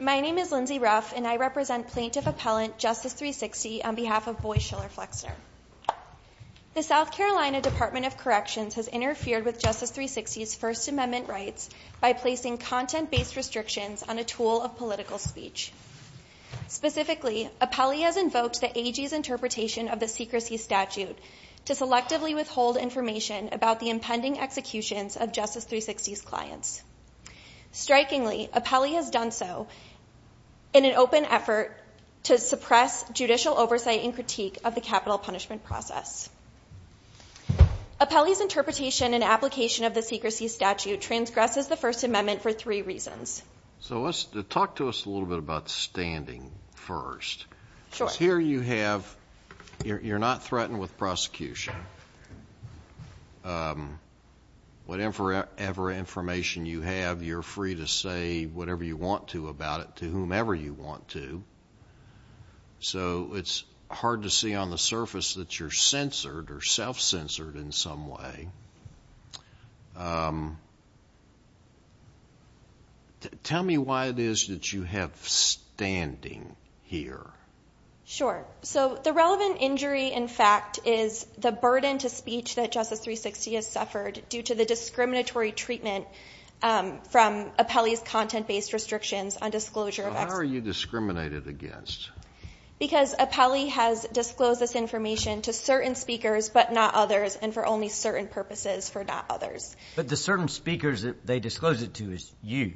My name is Lindsay Ruff and I represent plaintiff-appellant Justice 360 on behalf of Boy Schiller Flexner. The South Carolina Department of Corrections has interfered with Justice 360's First Amendment rights by placing content-based restrictions on a tool of political speech. Specifically, Apelli has invoked the AG's interpretation of the secrecy statute to selectively withhold information about the impending executions of Justice 360's clients. Strikingly, Apelli has done so in an open effort to suppress judicial oversight and critique of the capital punishment process. Apelli's interpretation and application of the secrecy statute transgresses the First Amendment for three reasons. So talk to us a little bit about standing first. Because here you have, you're not threatened with prosecution. Whatever information you have, you're free to say whatever you want to about it to whomever you want to. So it's hard to see on the surface that you're censored or self-censored in some way. Tell me why it is that you have standing here. Sure. So the relevant injury, in fact, is the burden to speech that Justice 360 has suffered due to the discriminatory treatment from Apelli's content-based restrictions on disclosure of executions. Why are you discriminated against? Because Apelli has disclosed this information to certain speakers, but not others, and for only certain purposes, for not others. But the certain speakers that they disclosed it to is you.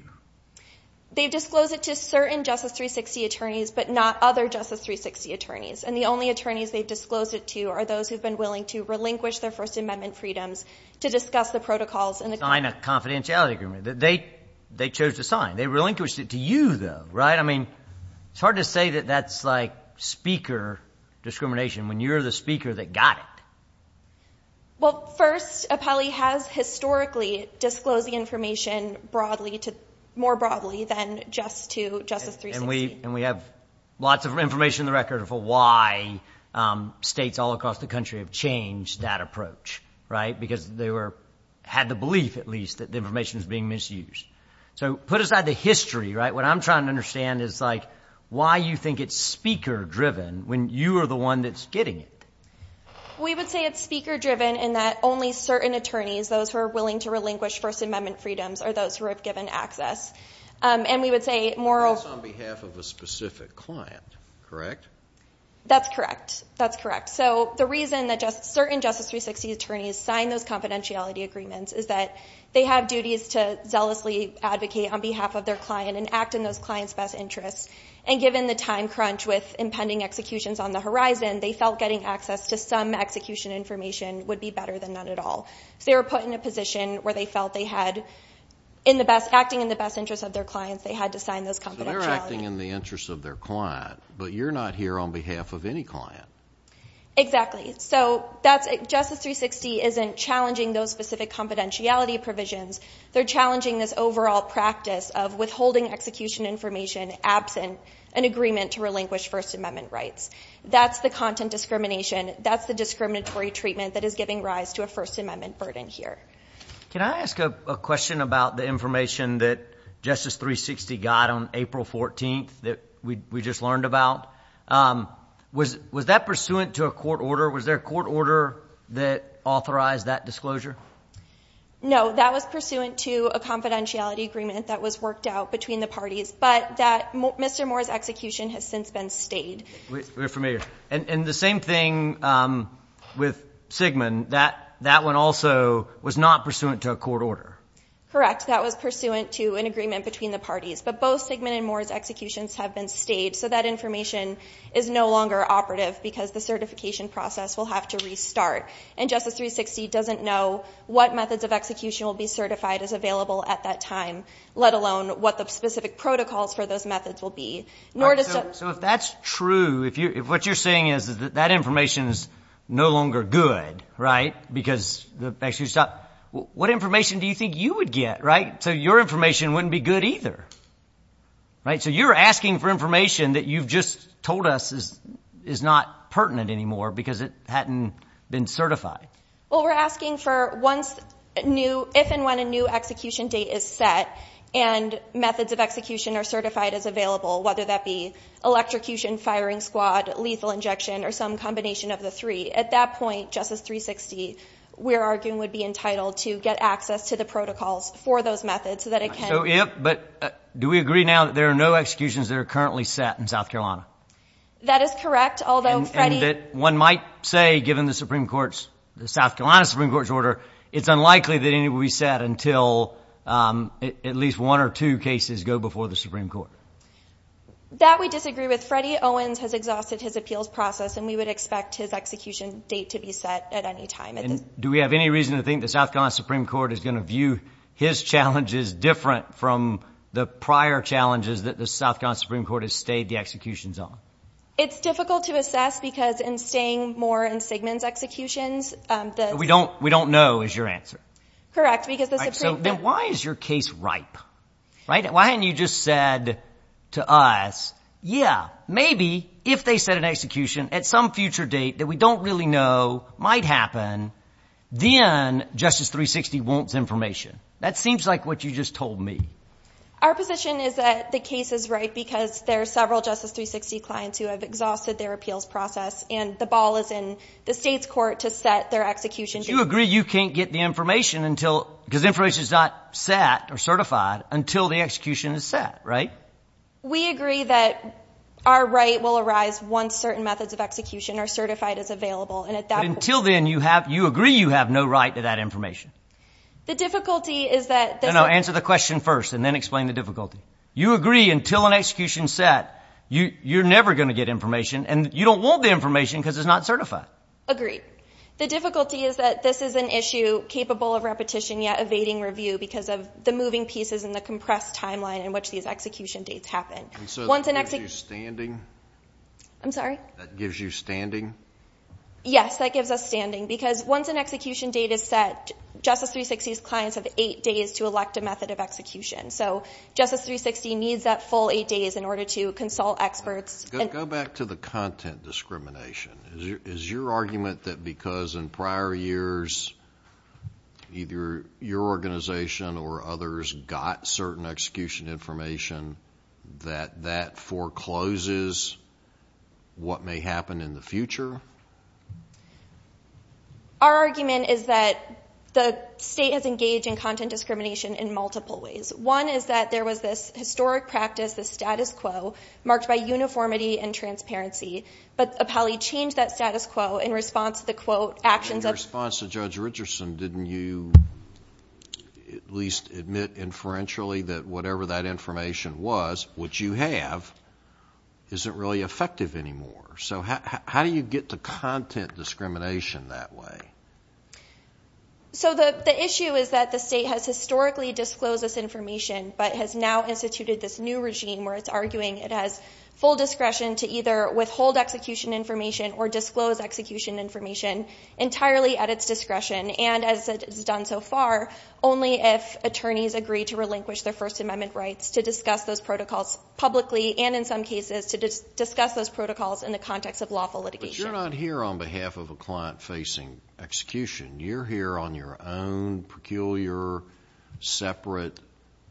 They've disclosed it to certain Justice 360 attorneys, but not other Justice 360 attorneys. And the only attorneys they've disclosed it to are those who've been willing to relinquish their First Amendment freedoms to discuss the protocols in the court. Sign a confidentiality agreement. They chose to sign. They relinquished it to you, though, right? I mean, it's hard to say that that's, like, speaker discrimination when you're the speaker that got it. Well, first, Apelli has historically disclosed the information more broadly than just to Justice 360. And we have lots of information on the record for why states all across the country have changed that approach, right? Because they had the belief, at least, that the information was being misused. So put aside the history, right? What I'm trying to understand is, like, why you think it's speaker-driven when you are the one that's getting it. We would say it's speaker-driven in that only certain attorneys, those who are willing to relinquish First Amendment freedoms are those who have given access. And we would say more of – That's on behalf of a specific client, correct? That's correct. That's correct. So the reason that certain Justice 360 attorneys sign those confidentiality agreements is that they have duties to on behalf of their client and act in those clients' best interests. And given the time crunch with impending executions on the horizon, they felt getting access to some execution information would be better than none at all. So they were put in a position where they felt they had, acting in the best interest of their clients, they had to sign those confidentiality agreements. So they're acting in the interest of their client, but you're not here on behalf of any client. Exactly. So Justice 360 isn't challenging those specific confidentiality provisions. They're challenging this overall practice of withholding execution information absent an agreement to relinquish First Amendment rights. That's the content discrimination. That's the discriminatory treatment that is giving rise to a First Amendment burden here. Can I ask a question about the information that Justice 360 got on April 14th that we just learned about? Was that pursuant to a court order? Was there a court order that authorized that disclosure? No. That was pursuant to a confidentiality agreement that was worked out between the parties, but that Mr. Moore's execution has since been stayed. We're familiar. And the same thing with Sigmund. That one also was not pursuant to a court order. Correct. That was pursuant to an agreement between the parties. But both Sigmund and Moore's executions have been stayed, so that information is no longer operative because the certification process will have to restart. And Justice 360 doesn't know what methods of execution will be certified as available at that time, let alone what the specific protocols for those methods will be. So if that's true, if what you're saying is that that information is no longer good because the executions stopped, what information do you think you would get? So your information wouldn't be good either. So you're asking for information that you've just told us is not pertinent anymore because it hadn't been certified. Well, we're asking for if and when a new execution date is set and methods of execution are certified as available, whether that be electrocution, firing squad, lethal injection, or some combination of the three. At that point, Justice 360, we're arguing, would be entitled to get access to the protocols for those methods so that it can. But do we agree now that there are no executions that are currently set in South Carolina? That is correct. One might say, given the Supreme Court's, the South Carolina Supreme Court's order, it's unlikely that any will be set until at least one or two cases go before the Supreme Court. That we disagree with. Freddie Owens has exhausted his appeals process, and we would expect his execution date to be set at any time. Do we have any reason to think the South Carolina Supreme Court is going to view his challenges different from the prior challenges that the South Carolina Supreme Court has stayed the executions on? It's difficult to assess because in staying more in Sigmund's executions, the- We don't know is your answer. Correct, because the Supreme Court- All right, so then why is your case ripe, right? Why hadn't you just said to us, yeah, maybe if they set an execution at some future date that we don't really know might happen, then Justice 360 wants information. That seems like what you just told me. Our position is that the case is ripe because there are several Justice 360 clients who have exhausted their appeals process, and the ball is in the state's court to set their execution date. But you agree you can't get the information until, because information is not set or certified, until the execution is set, right? We agree that our right will arise once certain methods of execution are certified as available, and at that point- But until then, you agree you have no right to that information. The difficulty is that- No, no, no, answer the question first and then explain the difficulty. You agree until an execution is set, you're never going to get information, and you don't want the information because it's not certified. Agreed. The difficulty is that this is an issue capable of repetition yet evading review because of the moving pieces and the compressed timeline in which these execution dates happen. And so that gives you standing? I'm sorry? That gives you standing? Yes, that gives us standing because once an execution date is set, Justice 360's clients have eight days to elect a method of execution. So Justice 360 needs that full eight days in order to consult experts. Go back to the content discrimination. Is your argument that because in prior years either your organization or others got certain execution information that that forecloses what may happen in the future? Our argument is that the state has engaged in content discrimination in multiple ways. One is that there was this historic practice, this status quo, marked by uniformity and transparency, but Appellee changed that status quo in response to the, quote, actions of- what you have isn't really effective anymore. So how do you get to content discrimination that way? So the issue is that the state has historically disclosed this information but has now instituted this new regime where it's arguing it has full discretion to either withhold execution information or disclose execution information entirely at its discretion. And as it has done so far, only if attorneys agree to relinquish their First Amendment rights to discuss those protocols publicly and in some cases to discuss those protocols in the context of lawful litigation. But you're not here on behalf of a client facing execution. You're here on your own peculiar, separate,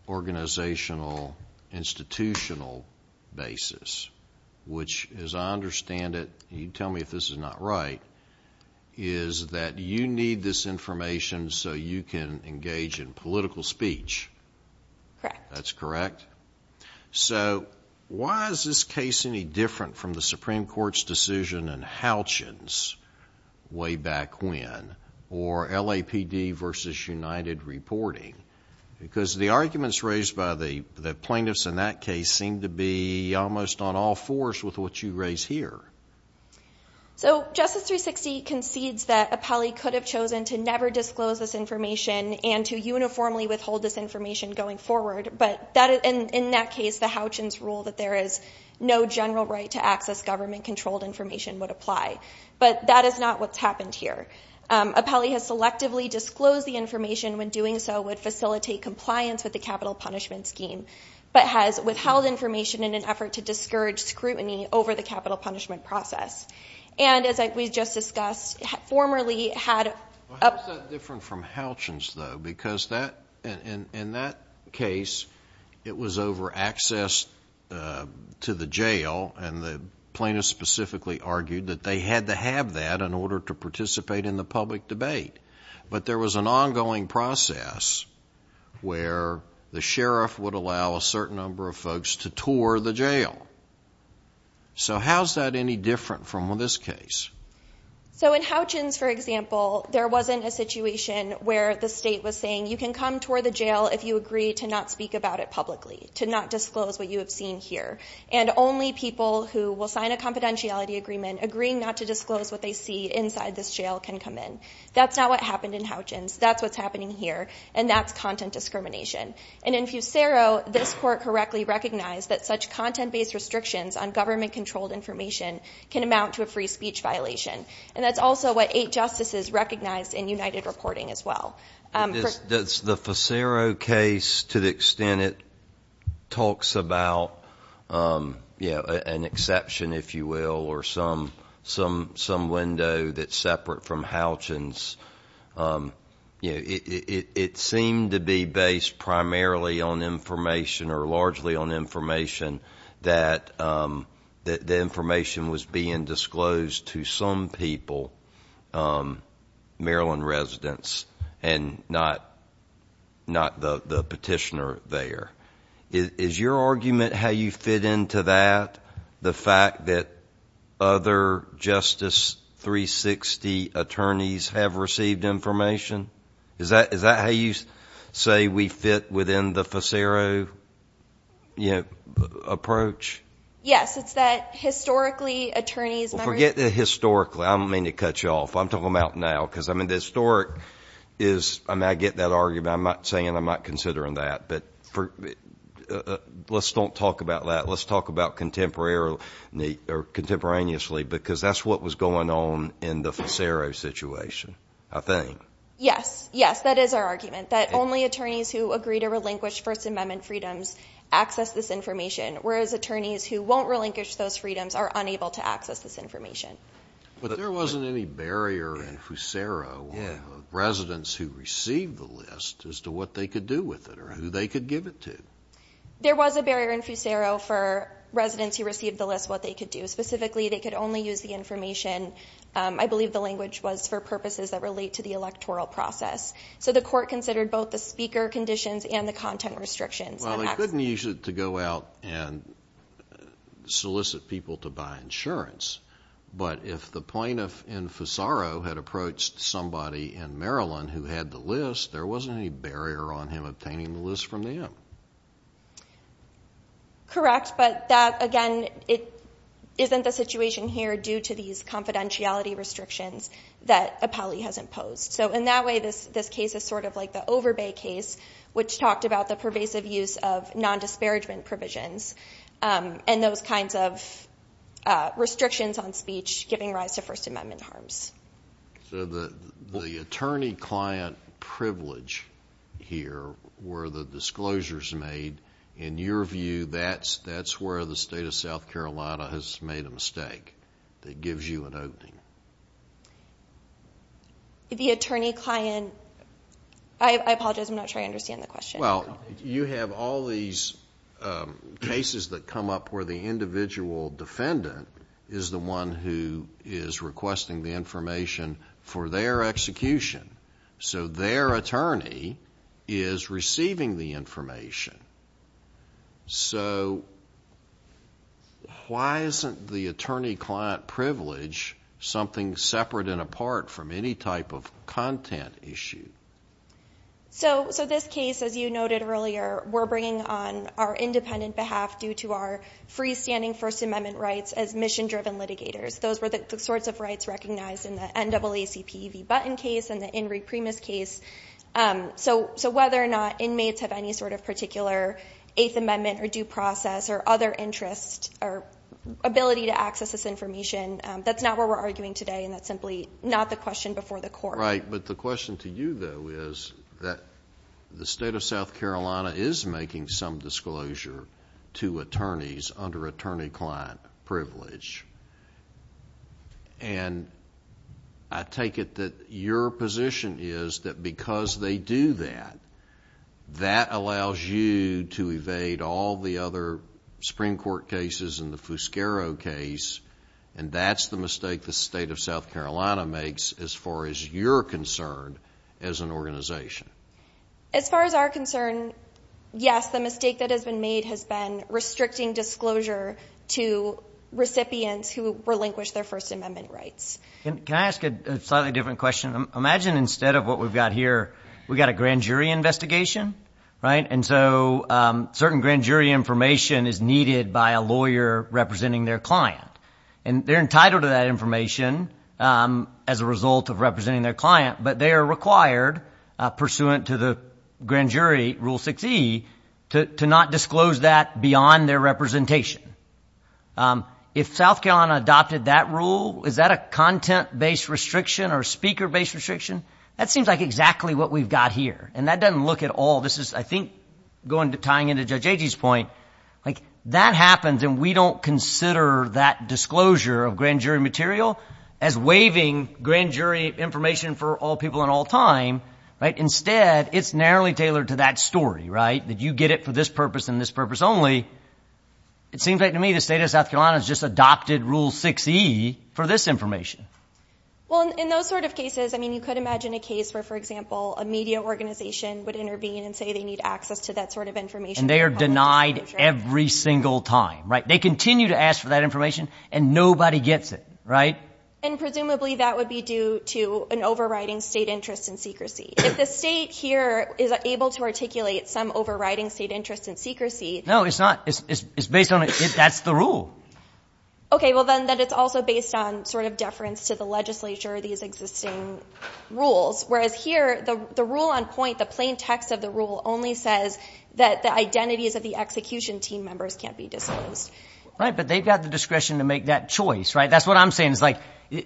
organizational, institutional basis, which, as I understand it, you tell me if this is not right, is that you need this information so you can engage in political speech. Correct. That's correct. So why is this case any different from the Supreme Court's decision in Halchins way back when, or LAPD versus United Reporting? Because the arguments raised by the plaintiffs in that case seem to be almost on all fours with what you raise here. So Justice 360 concedes that Apelli could have chosen to never disclose this information and to uniformly withhold this information going forward, but in that case the Halchins rule that there is no general right to access government-controlled information would apply. But that is not what's happened here. Apelli has selectively disclosed the information, when doing so would facilitate compliance with the capital punishment scheme, but has withheld information in an effort to discourage scrutiny over the capital punishment process. And, as we just discussed, formerly had a- How is that different from Halchins, though? Because in that case it was over access to the jail, and the plaintiffs specifically argued that they had to have that in order to participate in the public debate. But there was an ongoing process where the sheriff would allow a certain number of folks to tour the jail. So how is that any different from this case? So in Halchins, for example, there wasn't a situation where the state was saying, you can come tour the jail if you agree to not speak about it publicly, to not disclose what you have seen here. And only people who will sign a confidentiality agreement, agreeing not to disclose what they see inside this jail, can come in. That's not what happened in Halchins. That's what's happening here, and that's content discrimination. And in Fusero, this court correctly recognized that such content-based restrictions on government-controlled information can amount to a free speech violation. And that's also what eight justices recognized in United Reporting as well. The Fusero case, to the extent it talks about an exception, if you will, or some window that's separate from Halchins, it seemed to be based primarily on information or largely on information that the information was being disclosed to some people, Maryland residents. And not the petitioner there. Is your argument how you fit into that, the fact that other Justice 360 attorneys have received information? Is that how you say we fit within the Fusero approach? Yes, it's that historically attorneys... Forget the historically. I don't mean to cut you off. I'm talking about now because the historic is... I get that argument. I'm not saying I'm not considering that, but let's not talk about that. Let's talk about contemporaneously because that's what was going on in the Fusero situation, I think. Yes. Yes, that is our argument, that only attorneys who agree to relinquish First Amendment freedoms access this information, whereas attorneys who won't relinquish those freedoms are unable to access this information. But there wasn't any barrier in Fusero of residents who received the list as to what they could do with it or who they could give it to. There was a barrier in Fusero for residents who received the list, what they could do. Specifically, they could only use the information, I believe the language was, for purposes that relate to the electoral process. So the court considered both the speaker conditions and the content restrictions. Well, they couldn't use it to go out and solicit people to buy insurance. But if the plaintiff in Fusero had approached somebody in Maryland who had the list, there wasn't any barrier on him obtaining the list from them. Correct, but that, again, isn't the situation here due to these confidentiality restrictions that Apelli has imposed. So in that way, this case is sort of like the Overbay case, which talked about the pervasive use of nondisparagement provisions and those kinds of restrictions on speech giving rise to First Amendment harms. So the attorney-client privilege here where the disclosure is made, in your view, that's where the state of South Carolina has made a mistake that gives you an opening. The attorney-client, I apologize, I'm not sure I understand the question. Well, you have all these cases that come up where the individual defendant is the one who is requesting the information for their execution. So why isn't the attorney-client privilege something separate and apart from any type of content issue? So this case, as you noted earlier, we're bringing on our independent behalf due to our freestanding First Amendment rights as mission-driven litigators. Those were the sorts of rights recognized in the NAACP v. Button case and the In Re Primis case. So whether or not inmates have any sort of particular Eighth Amendment or due process or other interest or ability to access this information, that's not where we're arguing today, and that's simply not the question before the court. Right. But the question to you, though, is that the state of South Carolina is making some disclosure to attorneys under attorney-client privilege. And I take it that your position is that because they do that, that allows you to evade all the other Supreme Court cases and the Fuscaro case, and that's the mistake the state of South Carolina makes as far as your concern as an organization. As far as our concern, yes, the mistake that has been made has been restricting disclosure to recipients who relinquish their First Amendment rights. Can I ask a slightly different question? Imagine instead of what we've got here, we've got a grand jury investigation, right? And so certain grand jury information is needed by a lawyer representing their client. And they're entitled to that information as a result of representing their client, but they are required, pursuant to the grand jury rule 6E, to not disclose that beyond their representation. If South Carolina adopted that rule, is that a content-based restriction or speaker-based restriction? That seems like exactly what we've got here, and that doesn't look at all. This is, I think, going to tying into Judge Agee's point. Like, that happens, and we don't consider that disclosure of grand jury material as waiving grand jury information for all people and all time, right? Instead, it's narrowly tailored to that story, right, that you get it for this purpose and this purpose only. It seems like to me the state of South Carolina has just adopted rule 6E for this information. Well, in those sort of cases, I mean, you could imagine a case where, for example, a media organization would intervene and say they need access to that sort of information. And they are denied every single time, right? They continue to ask for that information, and nobody gets it, right? And presumably that would be due to an overriding state interest in secrecy. If the state here is able to articulate some overriding state interest in secrecy. No, it's not. It's based on a – that's the rule. Okay, well, then it's also based on sort of deference to the legislature or these existing rules, whereas here the rule on point, the plain text of the rule, only says that the identities of the execution team members can't be disclosed. Right, but they've got the discretion to make that choice, right? That's what I'm saying. It's like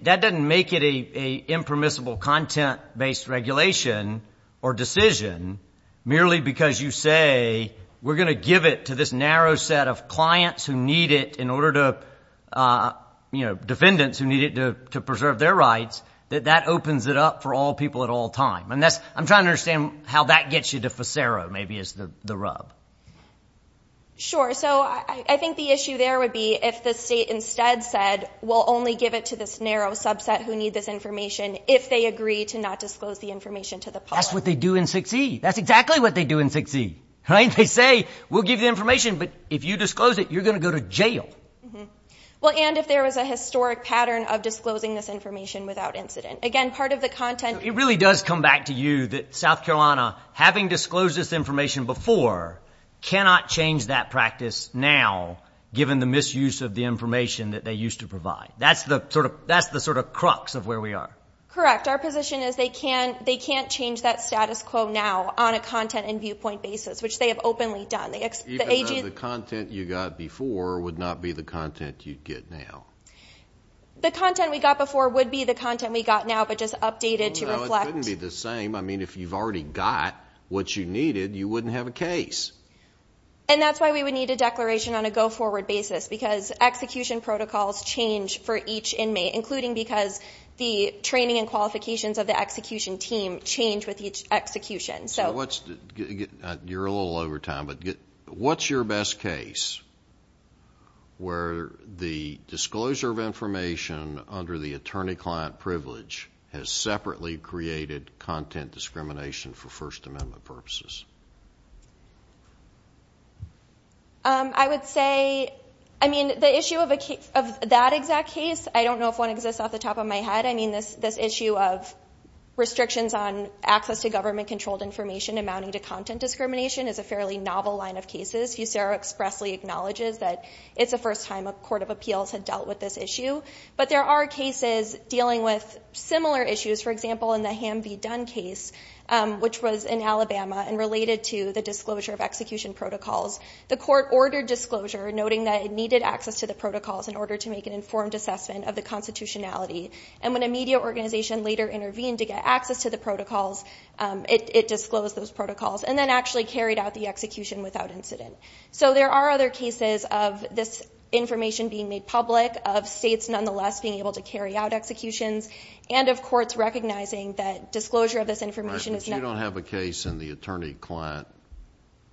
that doesn't make it an impermissible content-based regulation or decision merely because you say we're going to give it to this narrow set of clients who need it in order to, you know, defendants who need it to preserve their rights, that that opens it up for all people at all times. And that's – I'm trying to understand how that gets you to Fisero maybe is the rub. Sure. So I think the issue there would be if the state instead said we'll only give it to this narrow subset who need this information if they agree to not disclose the information to the public. That's what they do in 6E. That's exactly what they do in 6E, right? They say we'll give you the information, but if you disclose it, you're going to go to jail. Well, and if there was a historic pattern of disclosing this information without incident. It really does come back to you that South Carolina, having disclosed this information before, cannot change that practice now given the misuse of the information that they used to provide. That's the sort of crux of where we are. Correct. Our position is they can't change that status quo now on a content and viewpoint basis, which they have openly done. The content you got before would not be the content you'd get now. The content we got before would be the content we got now, but just updated to reflect. No, it couldn't be the same. I mean, if you've already got what you needed, you wouldn't have a case. And that's why we would need a declaration on a go-forward basis, because execution protocols change for each inmate, including because the training and qualifications of the execution team change with each execution. You're a little over time, but what's your best case where the disclosure of information under the attorney-client privilege has separately created content discrimination for First Amendment purposes? I would say, I mean, the issue of that exact case, I don't know if one exists off the top of my head. I mean, this issue of restrictions on access to government-controlled information amounting to content discrimination is a fairly novel line of cases. Fusero expressly acknowledges that it's the first time a court of appeals had dealt with this issue. But there are cases dealing with similar issues. For example, in the Ham v. Dunn case, which was in Alabama and related to the disclosure of execution protocols, the court ordered disclosure, noting that it needed access to the protocols in order to make an informed assessment of the constitutionality. And when a media organization later intervened to get access to the protocols, it disclosed those protocols and then actually carried out the execution without incident. So there are other cases of this information being made public, of states nonetheless being able to carry out executions, and of courts recognizing that disclosure of this information is not... But you don't have a case in the attorney-client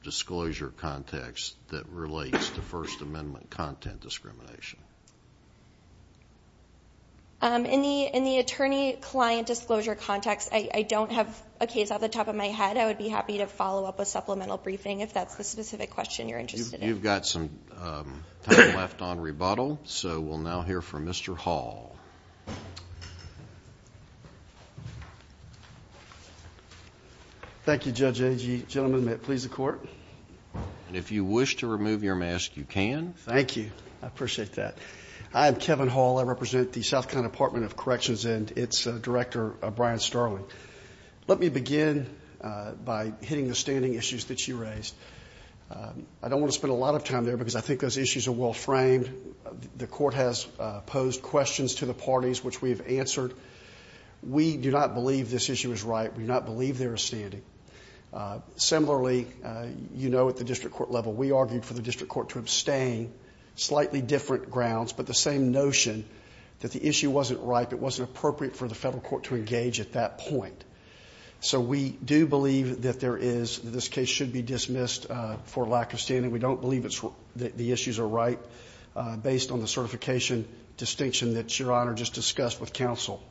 disclosure context that relates to First Amendment content discrimination? In the attorney-client disclosure context, I don't have a case off the top of my head. I would be happy to follow up with supplemental briefing if that's the specific question you're interested in. You've got some time left on rebuttal, so we'll now hear from Mr. Hall. Thank you, Judge Enge. Gentlemen, may it please the court? And if you wish to remove your mask, you can. Thank you. I appreciate that. I'm Kevin Hall. I represent the South Carolina Department of Corrections, and it's Director Brian Sterling. Let me begin by hitting the standing issues that you raised. I don't want to spend a lot of time there because I think those issues are well-framed. The court has posed questions to the parties, which we have answered. We do not believe this issue is right. We do not believe there is standing. Similarly, you know at the district court level, we argued for the district court to abstain, slightly different grounds, but the same notion that the issue wasn't right, it wasn't appropriate for the federal court to engage at that point. So we do believe that there is, that this case should be dismissed for lack of standing. We don't believe the issues are right based on the certification distinction that Your Honor just discussed with counsel.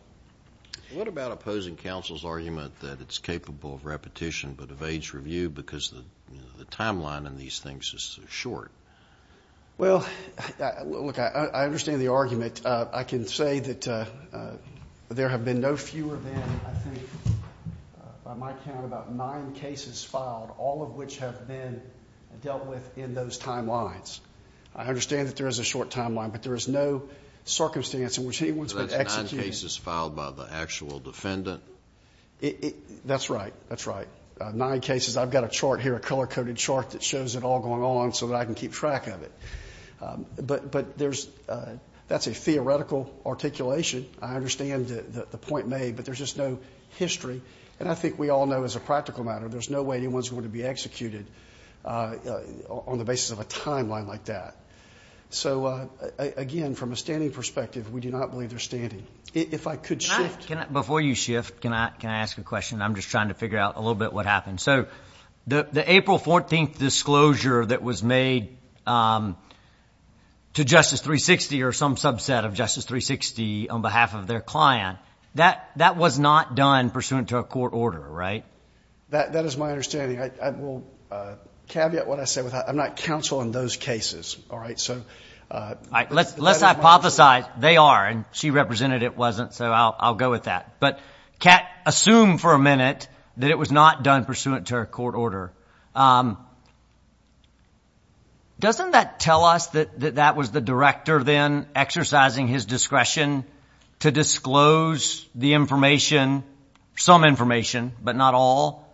What about opposing counsel's argument that it's capable of repetition but of age review because the timeline in these things is so short? Well, look, I understand the argument. I can say that there have been no fewer than, I think, by my count, about nine cases filed, all of which have been dealt with in those timelines. I understand that there is a short timeline, but there is no circumstance in which he was executed. So that's nine cases filed by the actual defendant? That's right. That's right. Nine cases. I've got a chart here, a color-coded chart that shows it all going on so that I can keep track of it. But there's, that's a theoretical articulation. I understand the point made, but there's just no history. And I think we all know as a practical matter, there's no way anyone's going to be executed on the basis of a timeline like that. So, again, from a standing perspective, we do not believe they're standing. If I could shift. Before you shift, can I ask a question? I'm just trying to figure out a little bit what happened. So the April 14th disclosure that was made to Justice 360 or some subset of Justice 360 on behalf of their client, that was not done pursuant to a court order, right? That is my understanding. I will caveat what I said. I'm not counsel in those cases, all right? So that is my understanding. Let's hypothesize. But they are, and she represented it wasn't, so I'll go with that. But assume for a minute that it was not done pursuant to a court order. Doesn't that tell us that that was the director then exercising his discretion to disclose the information, some information but not all,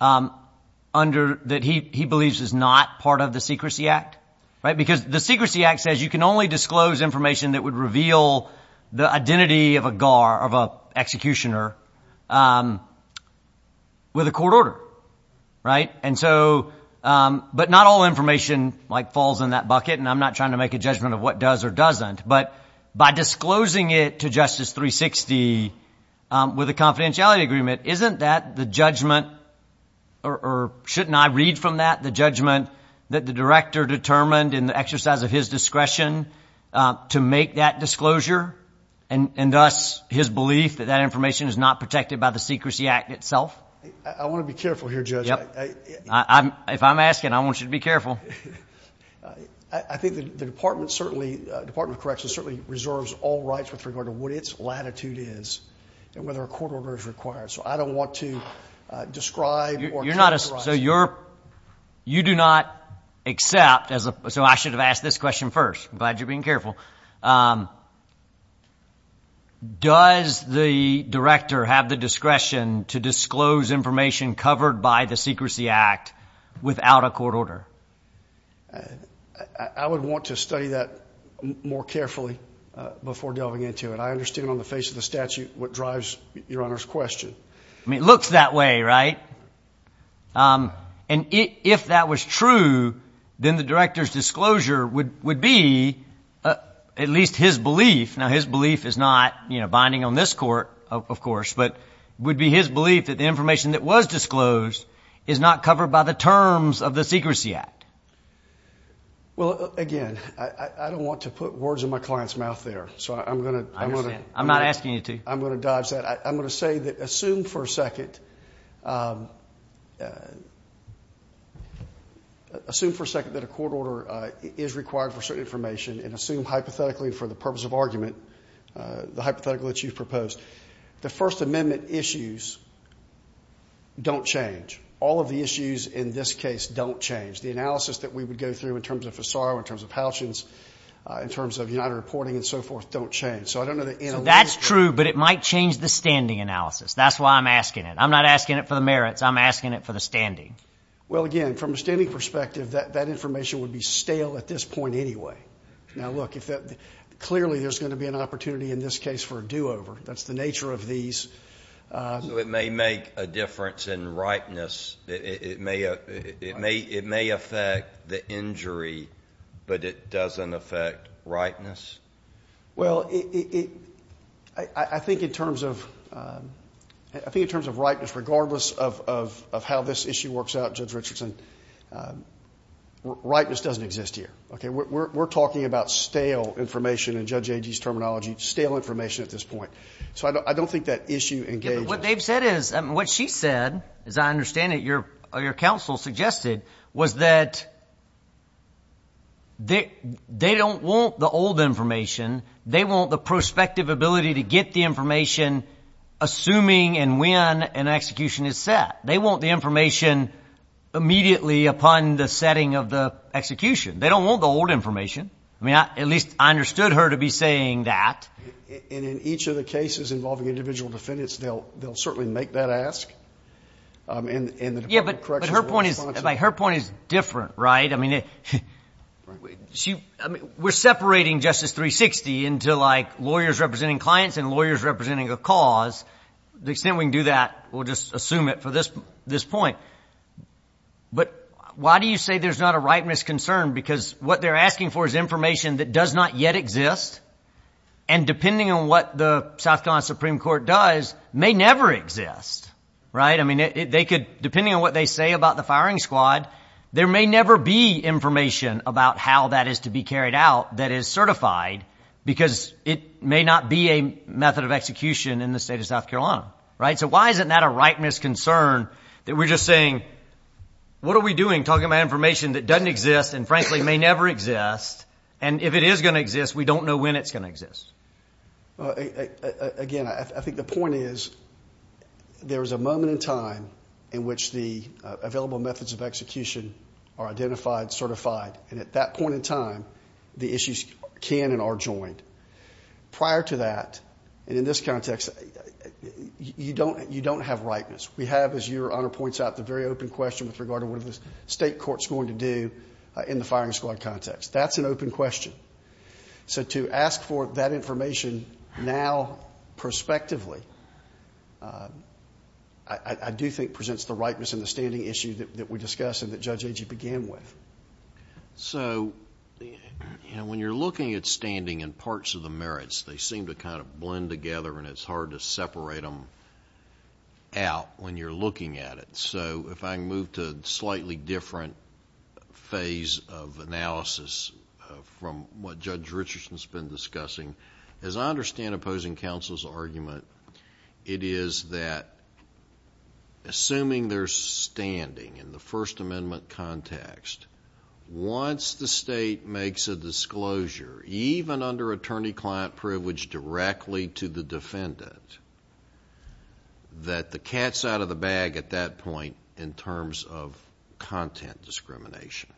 that he believes is not part of the Secrecy Act, right? Because the Secrecy Act says you can only disclose information that would reveal the identity of a GAR, of an executioner, with a court order, right? And so, but not all information, like, falls in that bucket, and I'm not trying to make a judgment of what does or doesn't. But by disclosing it to Justice 360 with a confidentiality agreement, isn't that the judgment, or shouldn't I read from that, the judgment that the director determined in the exercise of his discretion to make that disclosure, and thus his belief that that information is not protected by the Secrecy Act itself? I want to be careful here, Judge. If I'm asking, I want you to be careful. I think the Department of Corrections certainly reserves all rights with regard to what its latitude is and whether a court order is required. So I don't want to describe or characterize. So you're not, you do not accept, so I should have asked this question first. I'm glad you're being careful. Does the director have the discretion to disclose information covered by the Secrecy Act without a court order? I would want to study that more carefully before delving into it. I understand on the face of the statute what drives Your Honor's question. I mean, it looks that way, right? And if that was true, then the director's disclosure would be at least his belief. Now, his belief is not, you know, binding on this court, of course, but it would be his belief that the information that was disclosed is not covered by the terms of the Secrecy Act. Well, again, I don't want to put words in my client's mouth there, so I'm going to – I understand. I'm not asking you to. I'm going to dodge that. I'm going to say that assume for a second that a court order is required for certain information and assume hypothetically for the purpose of argument, the hypothetical that you've proposed, the First Amendment issues don't change. All of the issues in this case don't change. The analysis that we would go through in terms of Fasaro, in terms of Halchins, in terms of United Reporting and so forth don't change. So that's true, but it might change the standing analysis. That's why I'm asking it. I'm not asking it for the merits. I'm asking it for the standing. Well, again, from a standing perspective, that information would be stale at this point anyway. Now, look, clearly there's going to be an opportunity in this case for a do-over. That's the nature of these. So it may make a difference in rightness. It may affect the injury, but it doesn't affect rightness? Well, I think in terms of rightness, regardless of how this issue works out, Judge Richardson, rightness doesn't exist here. We're talking about stale information in Judge Agee's terminology, stale information at this point. So I don't think that issue engages. What they've said is, what she said, as I understand it, your counsel suggested, was that they don't want the old information. They want the prospective ability to get the information assuming and when an execution is set. They want the information immediately upon the setting of the execution. They don't want the old information. I mean, at least I understood her to be saying that. And in each of the cases involving individual defendants, they'll certainly make that ask. Yeah, but her point is different, right? I mean, we're separating Justice 360 into, like, lawyers representing clients and lawyers representing a cause. The extent we can do that, we'll just assume it for this point. But why do you say there's not a rightness concern? Because what they're asking for is information that does not yet exist, and depending on what the South Carolina Supreme Court does, may never exist, right? I mean, depending on what they say about the firing squad, there may never be information about how that is to be carried out that is certified because it may not be a method of execution in the state of South Carolina, right? So why isn't that a rightness concern that we're just saying, what are we doing talking about information that doesn't exist and, frankly, may never exist? And if it is going to exist, we don't know when it's going to exist. Again, I think the point is there is a moment in time in which the available methods of execution are identified, certified, and at that point in time, the issues can and are joined. Prior to that, and in this context, you don't have rightness. We have, as Your Honor points out, the very open question with regard to what the state court's going to do in the firing squad context. That's an open question. So to ask for that information now, prospectively, I do think presents the rightness in the standing issue that we discussed and that Judge Agee began with. So when you're looking at standing and parts of the merits, they seem to kind of blend together, and it's hard to separate them out when you're looking at it. So if I can move to a slightly different phase of analysis from what Judge Richardson has been discussing. As I understand opposing counsel's argument, it is that assuming there's standing in the First Amendment context, once the state makes a disclosure, even under attorney-client privilege directly to the defendant, that the cat's out of the bag at that point in terms of content discrimination.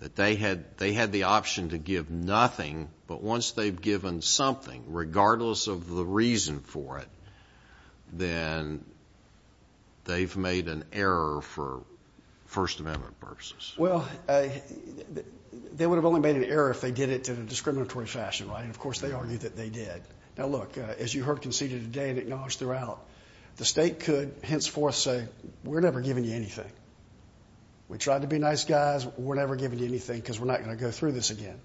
That they had the option to give nothing, but once they've given something, regardless of the reason for it, then they've made an error for First Amendment purposes. Well, they would have only made an error if they did it in a discriminatory fashion, right? And, of course, they argued that they did. Now, look, as you heard conceded today and acknowledged throughout, the state could henceforth say, we're never giving you anything. We tried to be nice guys. We're never giving you anything because we're not going to go through this again.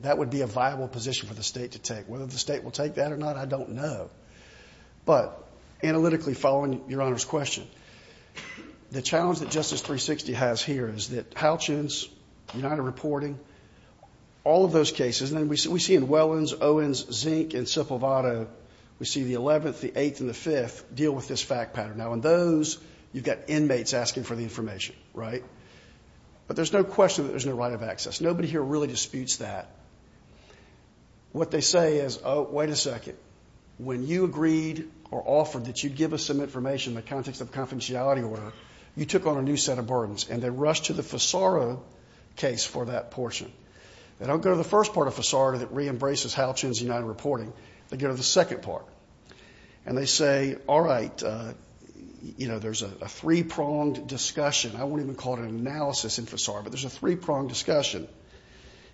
That would be a viable position for the state to take. Whether the state will take that or not, I don't know. But analytically following Your Honor's question, the challenge that Justice 360 has here is that we see the 11th, the 8th, and the 5th deal with this fact pattern. Now, in those, you've got inmates asking for the information, right? But there's no question that there's no right of access. Nobody here really disputes that. What they say is, oh, wait a second. When you agreed or offered that you'd give us some information in the context of confidentiality order, you took on a new set of burdens, and they rushed to the Fasaro case for that portion. They don't go to the first part of Fasaro that reembraces Hal Chun's United Reporting. They go to the second part. And they say, all right, you know, there's a three-pronged discussion. I won't even call it an analysis in Fasaro, but there's a three-pronged discussion.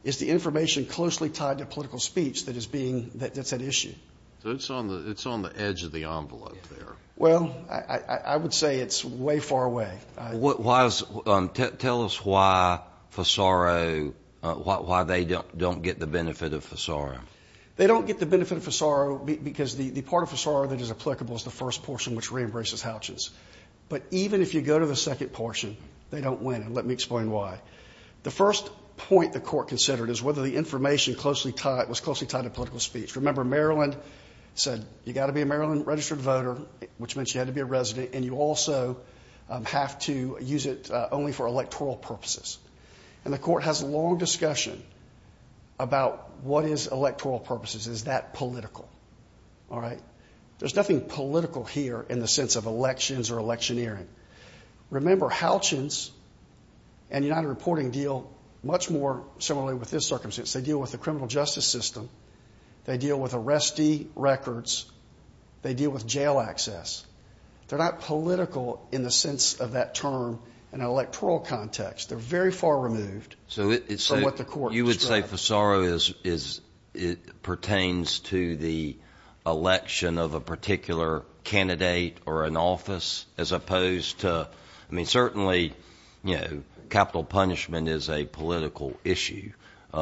Is the information closely tied to political speech that's at issue? So it's on the edge of the envelope there. Well, I would say it's way far away. Tell us why Fasaro, why they don't get the benefit of Fasaro. They don't get the benefit of Fasaro because the part of Fasaro that is applicable is the first portion which reembraces Hal Chun's. But even if you go to the second portion, they don't win, and let me explain why. The first point the court considered is whether the information was closely tied to political speech. Remember, Maryland said you've got to be a Maryland registered voter, which meant you had to be a resident, and you also have to use it only for electoral purposes. And the court has a long discussion about what is electoral purposes. Is that political? There's nothing political here in the sense of elections or electioneering. Remember, Hal Chun's and United Reporting deal much more similarly with this circumstance. They deal with the criminal justice system. They deal with arrestee records. They deal with jail access. They're not political in the sense of that term in an electoral context. They're very far removed from what the court described. So you would say Fasaro pertains to the election of a particular candidate or an office as opposed to, I mean, certainly, you know, capital punishment is a political issue. So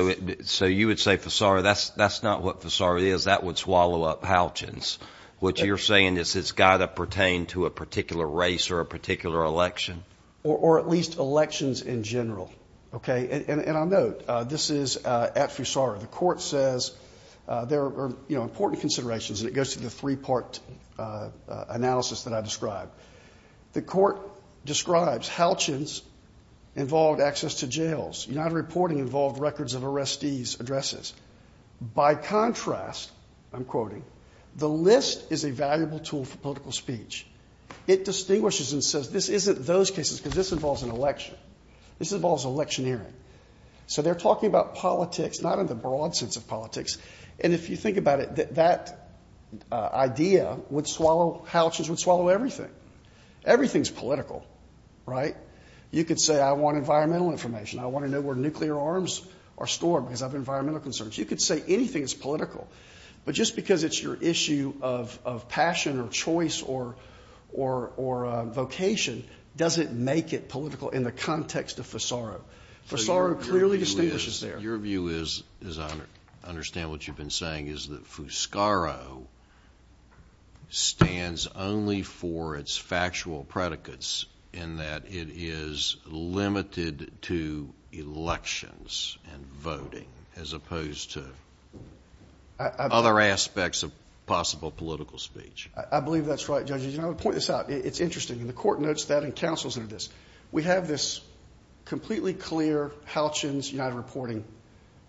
you would say, Fasaro, that's not what Fasaro is. That would swallow up Hal Chun's. What you're saying is it's got to pertain to a particular race or a particular election? Or at least elections in general, okay? And I'll note, this is at Fasaro. The court says there are, you know, important considerations, and it goes through the three-part analysis that I described. The court describes Hal Chun's involved access to jails. United Reporting involved records of arrestees' addresses. By contrast, I'm quoting, the list is a valuable tool for political speech. It distinguishes and says this isn't those cases because this involves an election. This involves electioneering. So they're talking about politics, not in the broad sense of politics. And if you think about it, that idea would swallow Hal Chun's, would swallow everything. Everything's political, right? You could say I want environmental information. I want to know where nuclear arms are stored because of environmental concerns. You could say anything is political. But just because it's your issue of passion or choice or vocation doesn't make it political in the context of Fasaro. Fasaro clearly distinguishes there. Your view is, as I understand what you've been saying, is that Fuscaro stands only for its factual predicates in that it is limited to elections and voting as opposed to other aspects of possible political speech. I believe that's right, Judge. You know, to point this out, it's interesting. The court notes that and counsels under this. We have this completely clear Hal Chun's United Reporting,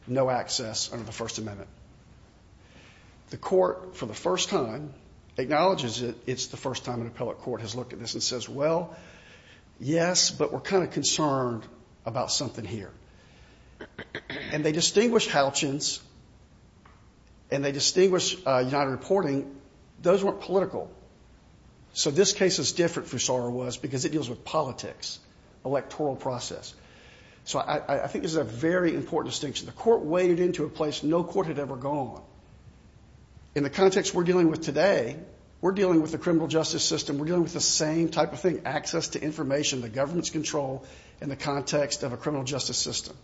no access under the First Amendment. The court, for the first time, acknowledges it. It's the first time an appellate court has looked at this and says, well, yes, but we're kind of concerned about something here. And they distinguish Hal Chun's and they distinguish United Reporting. Those weren't political. So this case is different, Fuscaro was, because it deals with politics, electoral process. So I think this is a very important distinction. The court waded into a place no court had ever gone. In the context we're dealing with today, we're dealing with the criminal justice system. We're dealing with the same type of thing, access to information, the government's control in the context of a criminal justice system.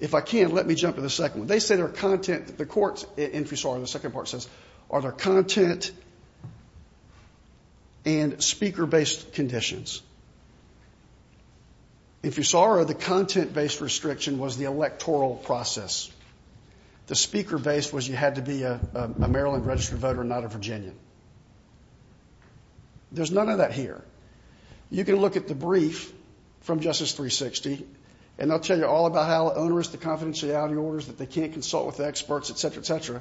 If I can, let me jump to the second one. They say their content, the court's, in Fuscaro, the second part says, are their content and speaker-based conditions. In Fuscaro, the content-based restriction was the electoral process. The speaker-based was you had to be a Maryland registered voter and not a Virginian. There's none of that here. You can look at the brief from Justice 360, and they'll tell you all about how onerous the confidentiality order is, that they can't consult with experts, et cetera, et cetera,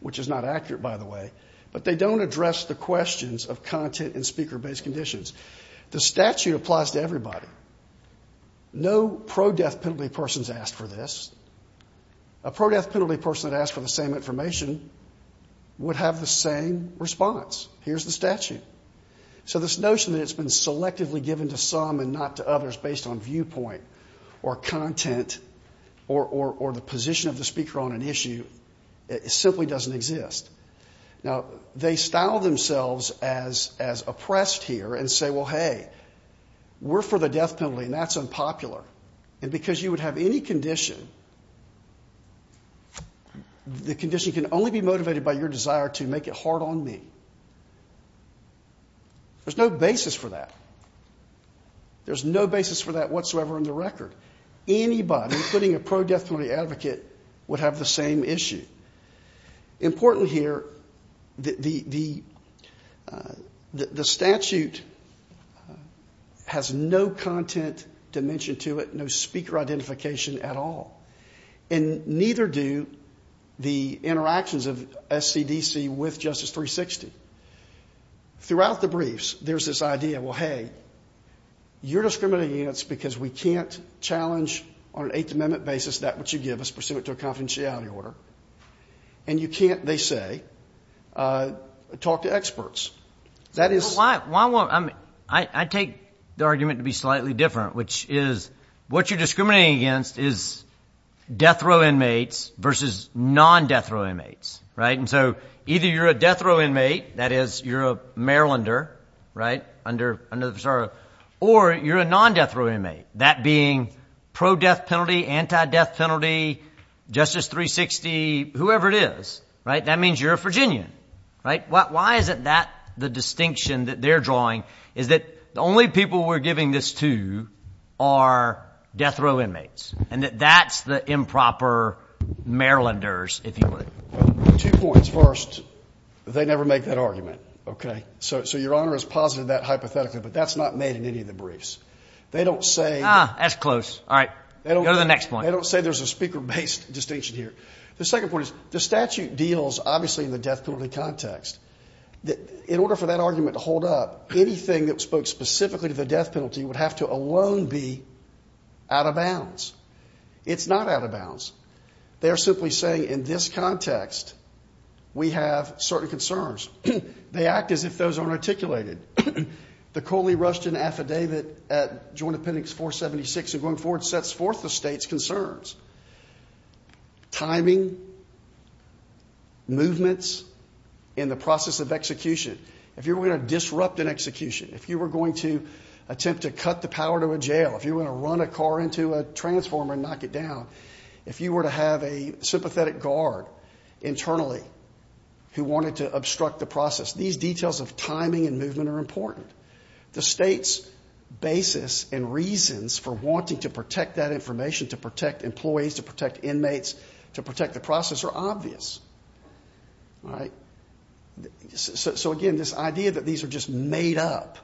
which is not accurate, by the way. But they don't address the questions of content and speaker-based conditions. The statute applies to everybody. No pro-death penalty person's asked for this. A pro-death penalty person that asked for the same information would have the same response. Here's the statute. So this notion that it's been selectively given to some and not to others based on viewpoint or content or the position of the speaker on an issue simply doesn't exist. Now, they style themselves as oppressed here and say, well, hey, we're for the death penalty, and that's unpopular. And because you would have any condition, the condition can only be motivated by your desire to make it hard on me. There's no basis for that. There's no basis for that whatsoever in the record. Anybody, including a pro-death penalty advocate, would have the same issue. Importantly here, the statute has no content dimension to it, no speaker identification at all, and neither do the interactions of SCDC with Justice 360. Throughout the briefs, there's this idea, well, hey, you're discriminating against because we can't challenge on an Eighth Amendment basis that which you give us pursuant to a confidentiality order. And you can't, they say, talk to experts. That is why I take the argument to be slightly different, which is what you're discriminating against is death row inmates versus non-death row inmates, right? And so either you're a death row inmate, that is you're a Marylander, right? Or you're a non-death row inmate, that being pro-death penalty, anti-death penalty, Justice 360, whoever it is, right? That means you're a Virginian, right? Why is it that the distinction that they're drawing is that the only people we're giving this to are death row inmates and that that's the improper Marylanders, if you will? Two points. First, they never make that argument, okay? So Your Honor has posited that hypothetically, but that's not made in any of the briefs. They don't say. Ah, that's close. All right. Go to the next point. They don't say there's a speaker-based distinction here. The second point is the statute deals, obviously, in the death penalty context. In order for that argument to hold up, anything that spoke specifically to the death penalty would have to alone be out of bounds. It's not out of bounds. They're simply saying in this context we have certain concerns. They act as if those aren't articulated. The Coley-Rushton Affidavit at Joint Appendix 476 and going forward sets forth the state's concerns. Timing, movements in the process of execution. If you were going to disrupt an execution, if you were going to attempt to cut the power to a jail, if you were going to run a car into a transformer and knock it down, if you were to have a sympathetic guard internally who wanted to obstruct the process, these details of timing and movement are important. The state's basis and reasons for wanting to protect that information, to protect employees, to protect inmates, to protect the process are obvious. All right. So, again, this idea that these are just made up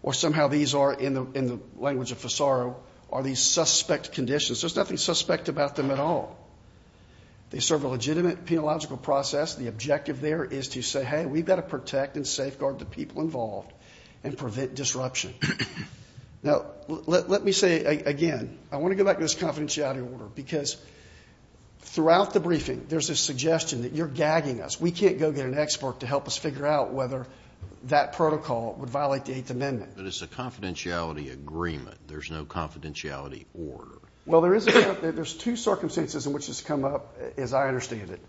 or somehow these are, in the language of Fasaro, are these suspect conditions. There's nothing suspect about them at all. They serve a legitimate, penological process. The objective there is to say, hey, we've got to protect and safeguard the people involved and prevent disruption. Now, let me say again, I want to go back to this confidentiality order, because throughout the briefing there's a suggestion that you're gagging us. We can't go get an expert to help us figure out whether that protocol would violate the Eighth Amendment. But it's a confidentiality agreement. There's no confidentiality order. Well, there's two circumstances in which this has come up, as I understand it.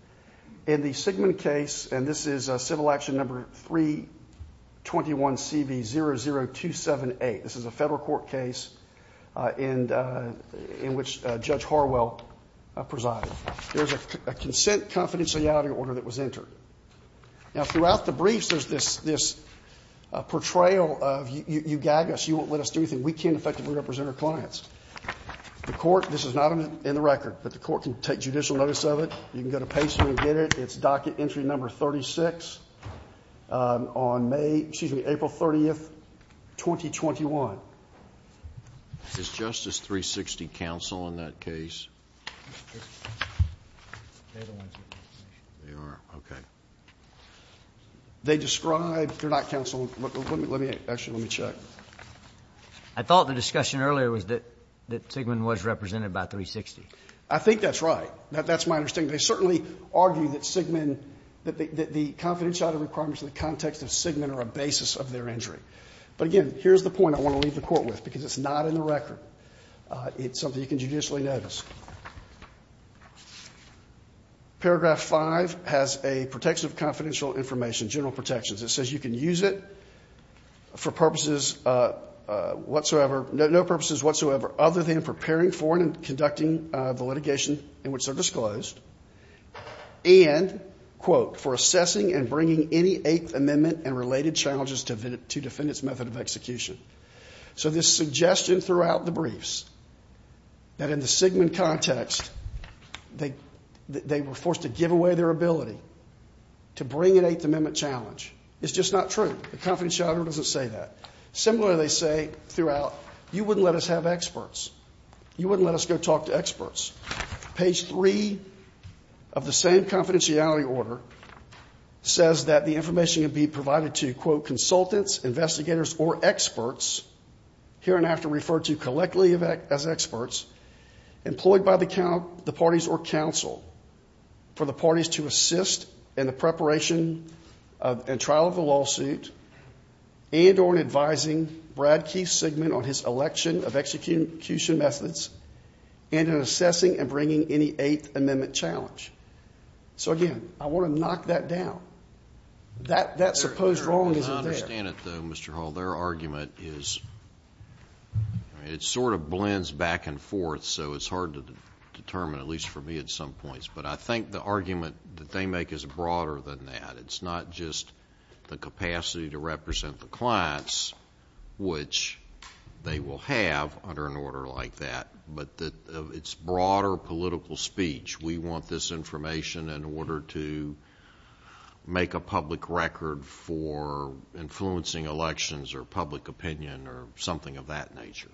In the Sigmund case, and this is Civil Action Number 321CB00278, this is a federal court case in which Judge Harwell presided. There's a consent confidentiality order that was entered. Now, throughout the briefs there's this portrayal of you gag us, you won't let us do anything, and we can't effectively represent our clients. The court, this is not in the record, but the court can take judicial notice of it. You can go to Pace and get it. It's docket entry number 36 on May, excuse me, April 30, 2021. Is Justice 360 counsel in that case? They are. Okay. They describe, they're not counsel. Actually, let me check. I thought the discussion earlier was that Sigmund was represented by 360. I think that's right. That's my understanding. They certainly argue that Sigmund, that the confidentiality requirements in the context of Sigmund are a basis of their injury. But, again, here's the point I want to leave the court with, because it's not in the record. It's something you can judicially notice. Paragraph five has a protection of confidential information, general protections. It says you can use it for purposes whatsoever, no purposes whatsoever other than preparing for and conducting the litigation in which they're disclosed and, quote, for assessing and bringing any Eighth Amendment and related challenges to defendant's method of execution. So this suggestion throughout the briefs that in the Sigmund context, they were forced to give away their ability to bring an Eighth Amendment challenge. It's just not true. The confidentiality order doesn't say that. Similarly, they say throughout, you wouldn't let us have experts. Page three of the same confidentiality order says that the information can be provided to, quote, consultants, investigators, or experts, here and after referred to collectively as experts, employed by the parties or counsel for the parties to assist in the preparation and trial of the lawsuit and or in advising Brad Keith Sigmund on his election of execution methods and in assessing and bringing any Eighth Amendment challenge. So, again, I want to knock that down. That supposed wrong isn't there. I understand it, though, Mr. Hall. Their argument is, it sort of blends back and forth, so it's hard to determine, at least for me at some points. But I think the argument that they make is broader than that. It's not just the capacity to represent the clients, which they will have under an order like that, but it's broader political speech. We want this information in order to make a public record for influencing elections or public opinion or something of that nature.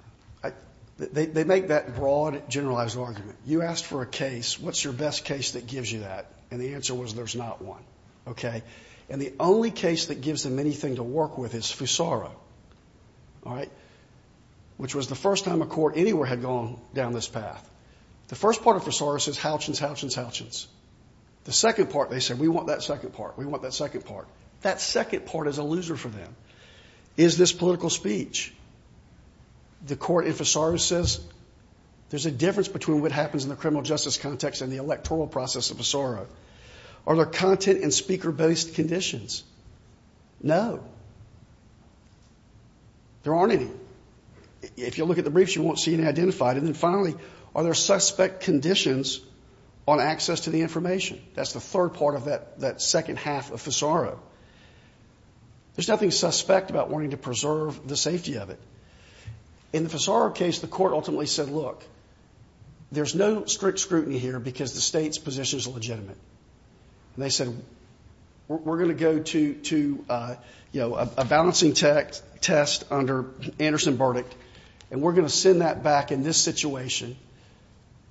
They make that broad, generalized argument. You asked for a case. What's your best case that gives you that? And the answer was, there's not one. And the only case that gives them anything to work with is Fusaro, which was the first time a court anywhere had gone down this path. The first part of Fusaro says, Houchins, Houchins, Houchins. The second part, they said, we want that second part. We want that second part. That second part is a loser for them, is this political speech. The court in Fusaro says, there's a difference between what happens in the criminal justice context and the electoral process of Fusaro. Are there content and speaker-based conditions? No. There aren't any. If you look at the briefs, you won't see any identified. And then finally, are there suspect conditions on access to the information? That's the third part of that second half of Fusaro. There's nothing suspect about wanting to preserve the safety of it. In the Fusaro case, the court ultimately said, look, there's no strict scrutiny here because the state's position is legitimate. And they said, we're going to go to, you know, a balancing test under Anderson Burdick, and we're going to send that back in this situation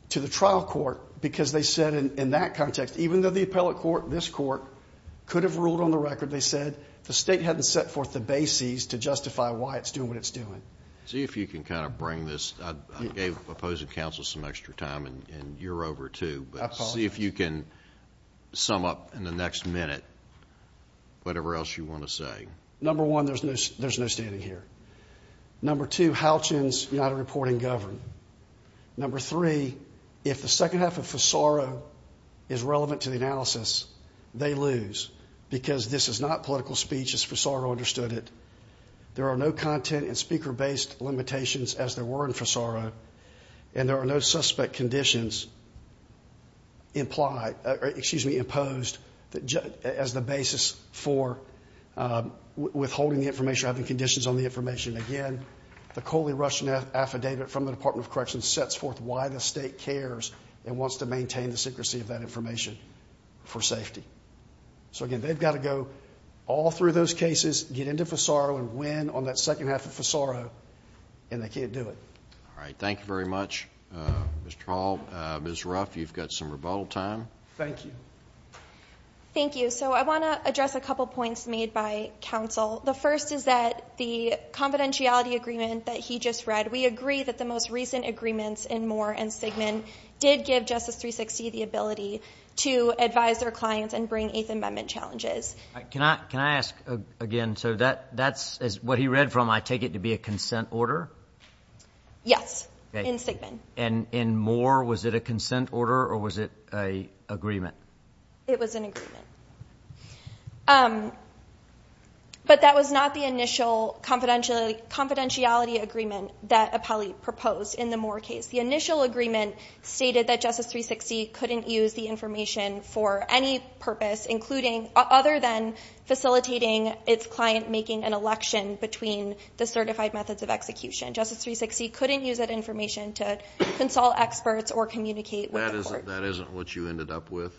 to the trial court because they said in that context, even though the appellate court, this court, could have ruled on the record, they said, the state hadn't set forth the bases to justify why it's doing what it's doing. See if you can kind of bring this. I gave opposing counsel some extra time, and you're over, too. I apologize. But see if you can sum up in the next minute whatever else you want to say. Number one, there's no standing here. Number two, Halchen's not a reporting government. Number three, if the second half of Fusaro is relevant to the analysis, they lose, because this is not political speech as Fusaro understood it. There are no content and speaker-based limitations as there were in Fusaro, and there are no suspect conditions imposed as the basis for withholding the information or having conditions on the information. Again, the Coley-Rush affidavit from the Department of Corrections sets forth why the state cares and wants to maintain the secrecy of that information for safety. So, again, they've got to go all through those cases, get into Fusaro, and win on that second half of Fusaro, and they can't do it. All right. Thank you very much, Mr. Hall. Ms. Ruff, you've got some rebuttal time. Thank you. Thank you. So I want to address a couple points made by counsel. The first is that the confidentiality agreement that he just read, we agree that the most recent agreements in Moore and Sigmund did give Justice 360 the ability to advise their clients and bring Eighth Amendment challenges. Can I ask again? So that's what he read from, I take it, to be a consent order? Yes, in Sigmund. And in Moore, was it a consent order or was it an agreement? It was an agreement. But that was not the initial confidentiality agreement that Apelli proposed in the Moore case. The initial agreement stated that Justice 360 couldn't use the information for any purpose, other than facilitating its client making an election between the certified methods of execution. Justice 360 couldn't use that information to consult experts or communicate with the court. That isn't what you ended up with?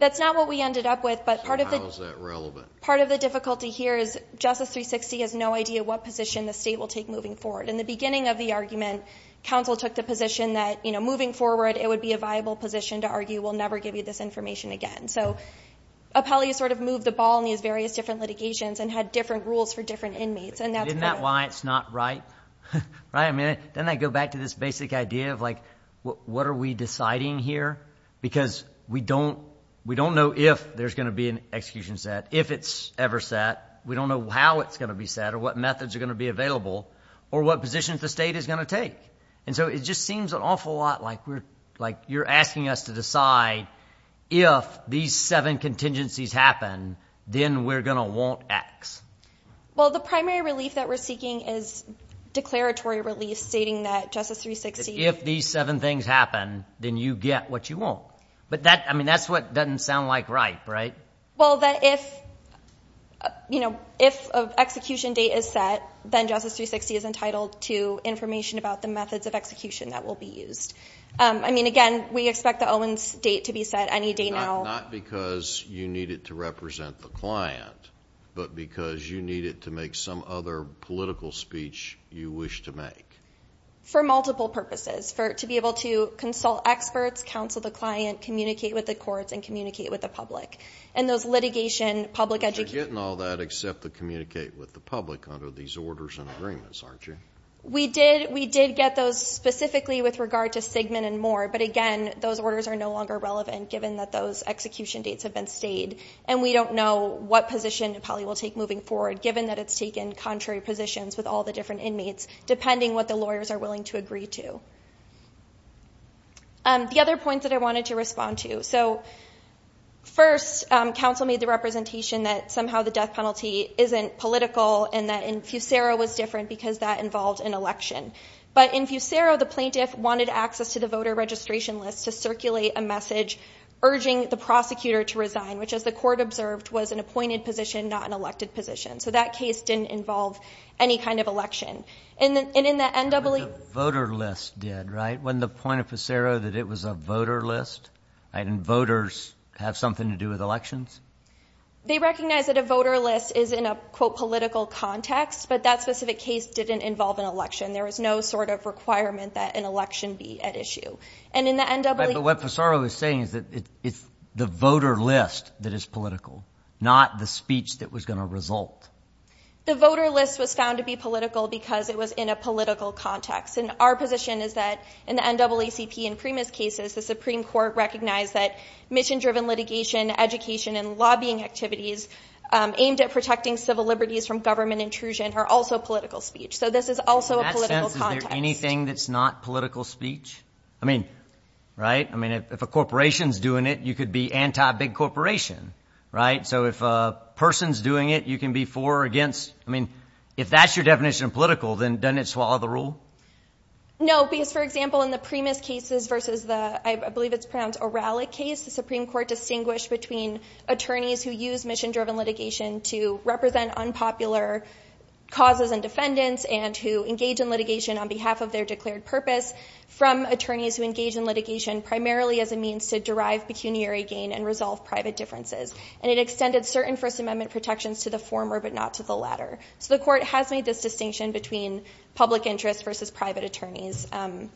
That's not what we ended up with. So how is that relevant? Part of the difficulty here is Justice 360 has no idea what position the state will take moving forward. In the beginning of the argument, counsel took the position that moving forward, it would be a viable position to argue we'll never give you this information again. So Apelli sort of moved the ball in these various different litigations and had different rules for different inmates. Isn't that why it's not right? Doesn't that go back to this basic idea of what are we deciding here? Because we don't know if there's going to be an execution set, if it's ever set. We don't know how it's going to be set or what methods are going to be available or what positions the state is going to take. And so it just seems an awful lot like you're asking us to decide if these seven contingencies happen, then we're going to want X. Well, the primary relief that we're seeking is declaratory relief stating that Justice 360 If these seven things happen, then you get what you want. But that's what doesn't sound like right, right? Well, that if an execution date is set, then Justice 360 is entitled to information about the methods of execution that will be used. I mean, again, we expect the Owens date to be set any day now. Not because you need it to represent the client, but because you need it to make some other political speech you wish to make. For multiple purposes. To be able to consult experts, counsel the client, communicate with the courts, and communicate with the public. And those litigation, public education. But you're getting all that except to communicate with the public under these orders and agreements, aren't you? We did get those specifically with regard to Sigmund and more, but again, those orders are no longer relevant given that those execution dates have been stayed. And we don't know what position it probably will take moving forward given that it's taken contrary positions with all the different inmates depending what the lawyers are willing to agree to. The other points that I wanted to respond to. So first, counsel made the representation that somehow the death penalty isn't political and that in Fusero was different because that involved an election. But in Fusero, the plaintiff wanted access to the voter registration list to circulate a message urging the prosecutor to resign, which as the court observed was an appointed position, not an elected position. So that case didn't involve any kind of election. And in the NAACP. The voter list did, right? Wasn't the point of Fusero that it was a voter list? And voters have something to do with elections? They recognize that a voter list is in a, quote, political context, but that specific case didn't involve an election. There was no sort of requirement that an election be at issue. And in the NAACP. But what Fusero is saying is that it's the voter list that is political, not the speech that was going to result. The voter list was found to be political because it was in a political context. And our position is that in the NAACP and Primus cases, the Supreme Court recognized that mission-driven litigation, education, and lobbying activities aimed at protecting civil liberties from government intrusion are also political speech. So this is also a political context. In that sense, is there anything that's not political speech? I mean, right? So if a person's doing it, you can be for or against. I mean, if that's your definition of political, then doesn't it swallow the rule? No, because, for example, in the Primus cases versus the, I believe it's pronounced Oralic case, the Supreme Court distinguished between attorneys who use mission-driven litigation to represent unpopular causes and defendants and who engage in litigation on behalf of their declared purpose from attorneys who engage in litigation primarily as a means to derive pecuniary gain and resolve private differences. And it extended certain First Amendment protections to the former but not to the latter. So the court has made this distinction between public interests versus private attorneys. I'm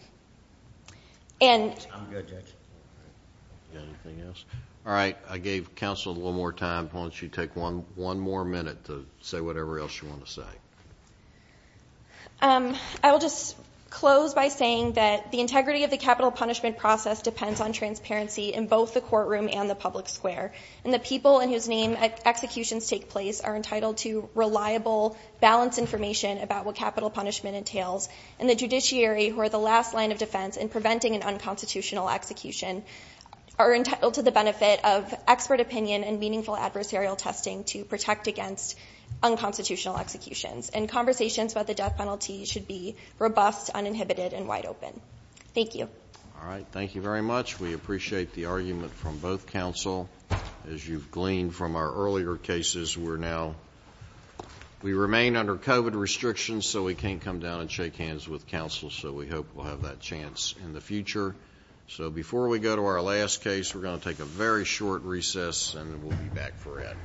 good, Judge. Anything else? All right, I gave counsel a little more time. Why don't you take one more minute to say whatever else you want to say. I will just close by saying that the integrity of the capital punishment process depends on transparency in both the courtroom and the public square. And the people in whose name executions take place are entitled to reliable, balanced information about what capital punishment entails. And the judiciary, who are the last line of defense in preventing an unconstitutional execution, are entitled to the benefit of expert opinion and meaningful adversarial testing to protect against unconstitutional executions. And conversations about the death penalty should be robust, uninhibited, and wide open. Thank you. All right, thank you very much. We appreciate the argument from both counsel. As you've gleaned from our earlier cases, we remain under COVID restrictions, so we can't come down and shake hands with counsel. So we hope we'll have that chance in the future. So before we go to our last case, we're going to take a very short recess, and then we'll be back for it.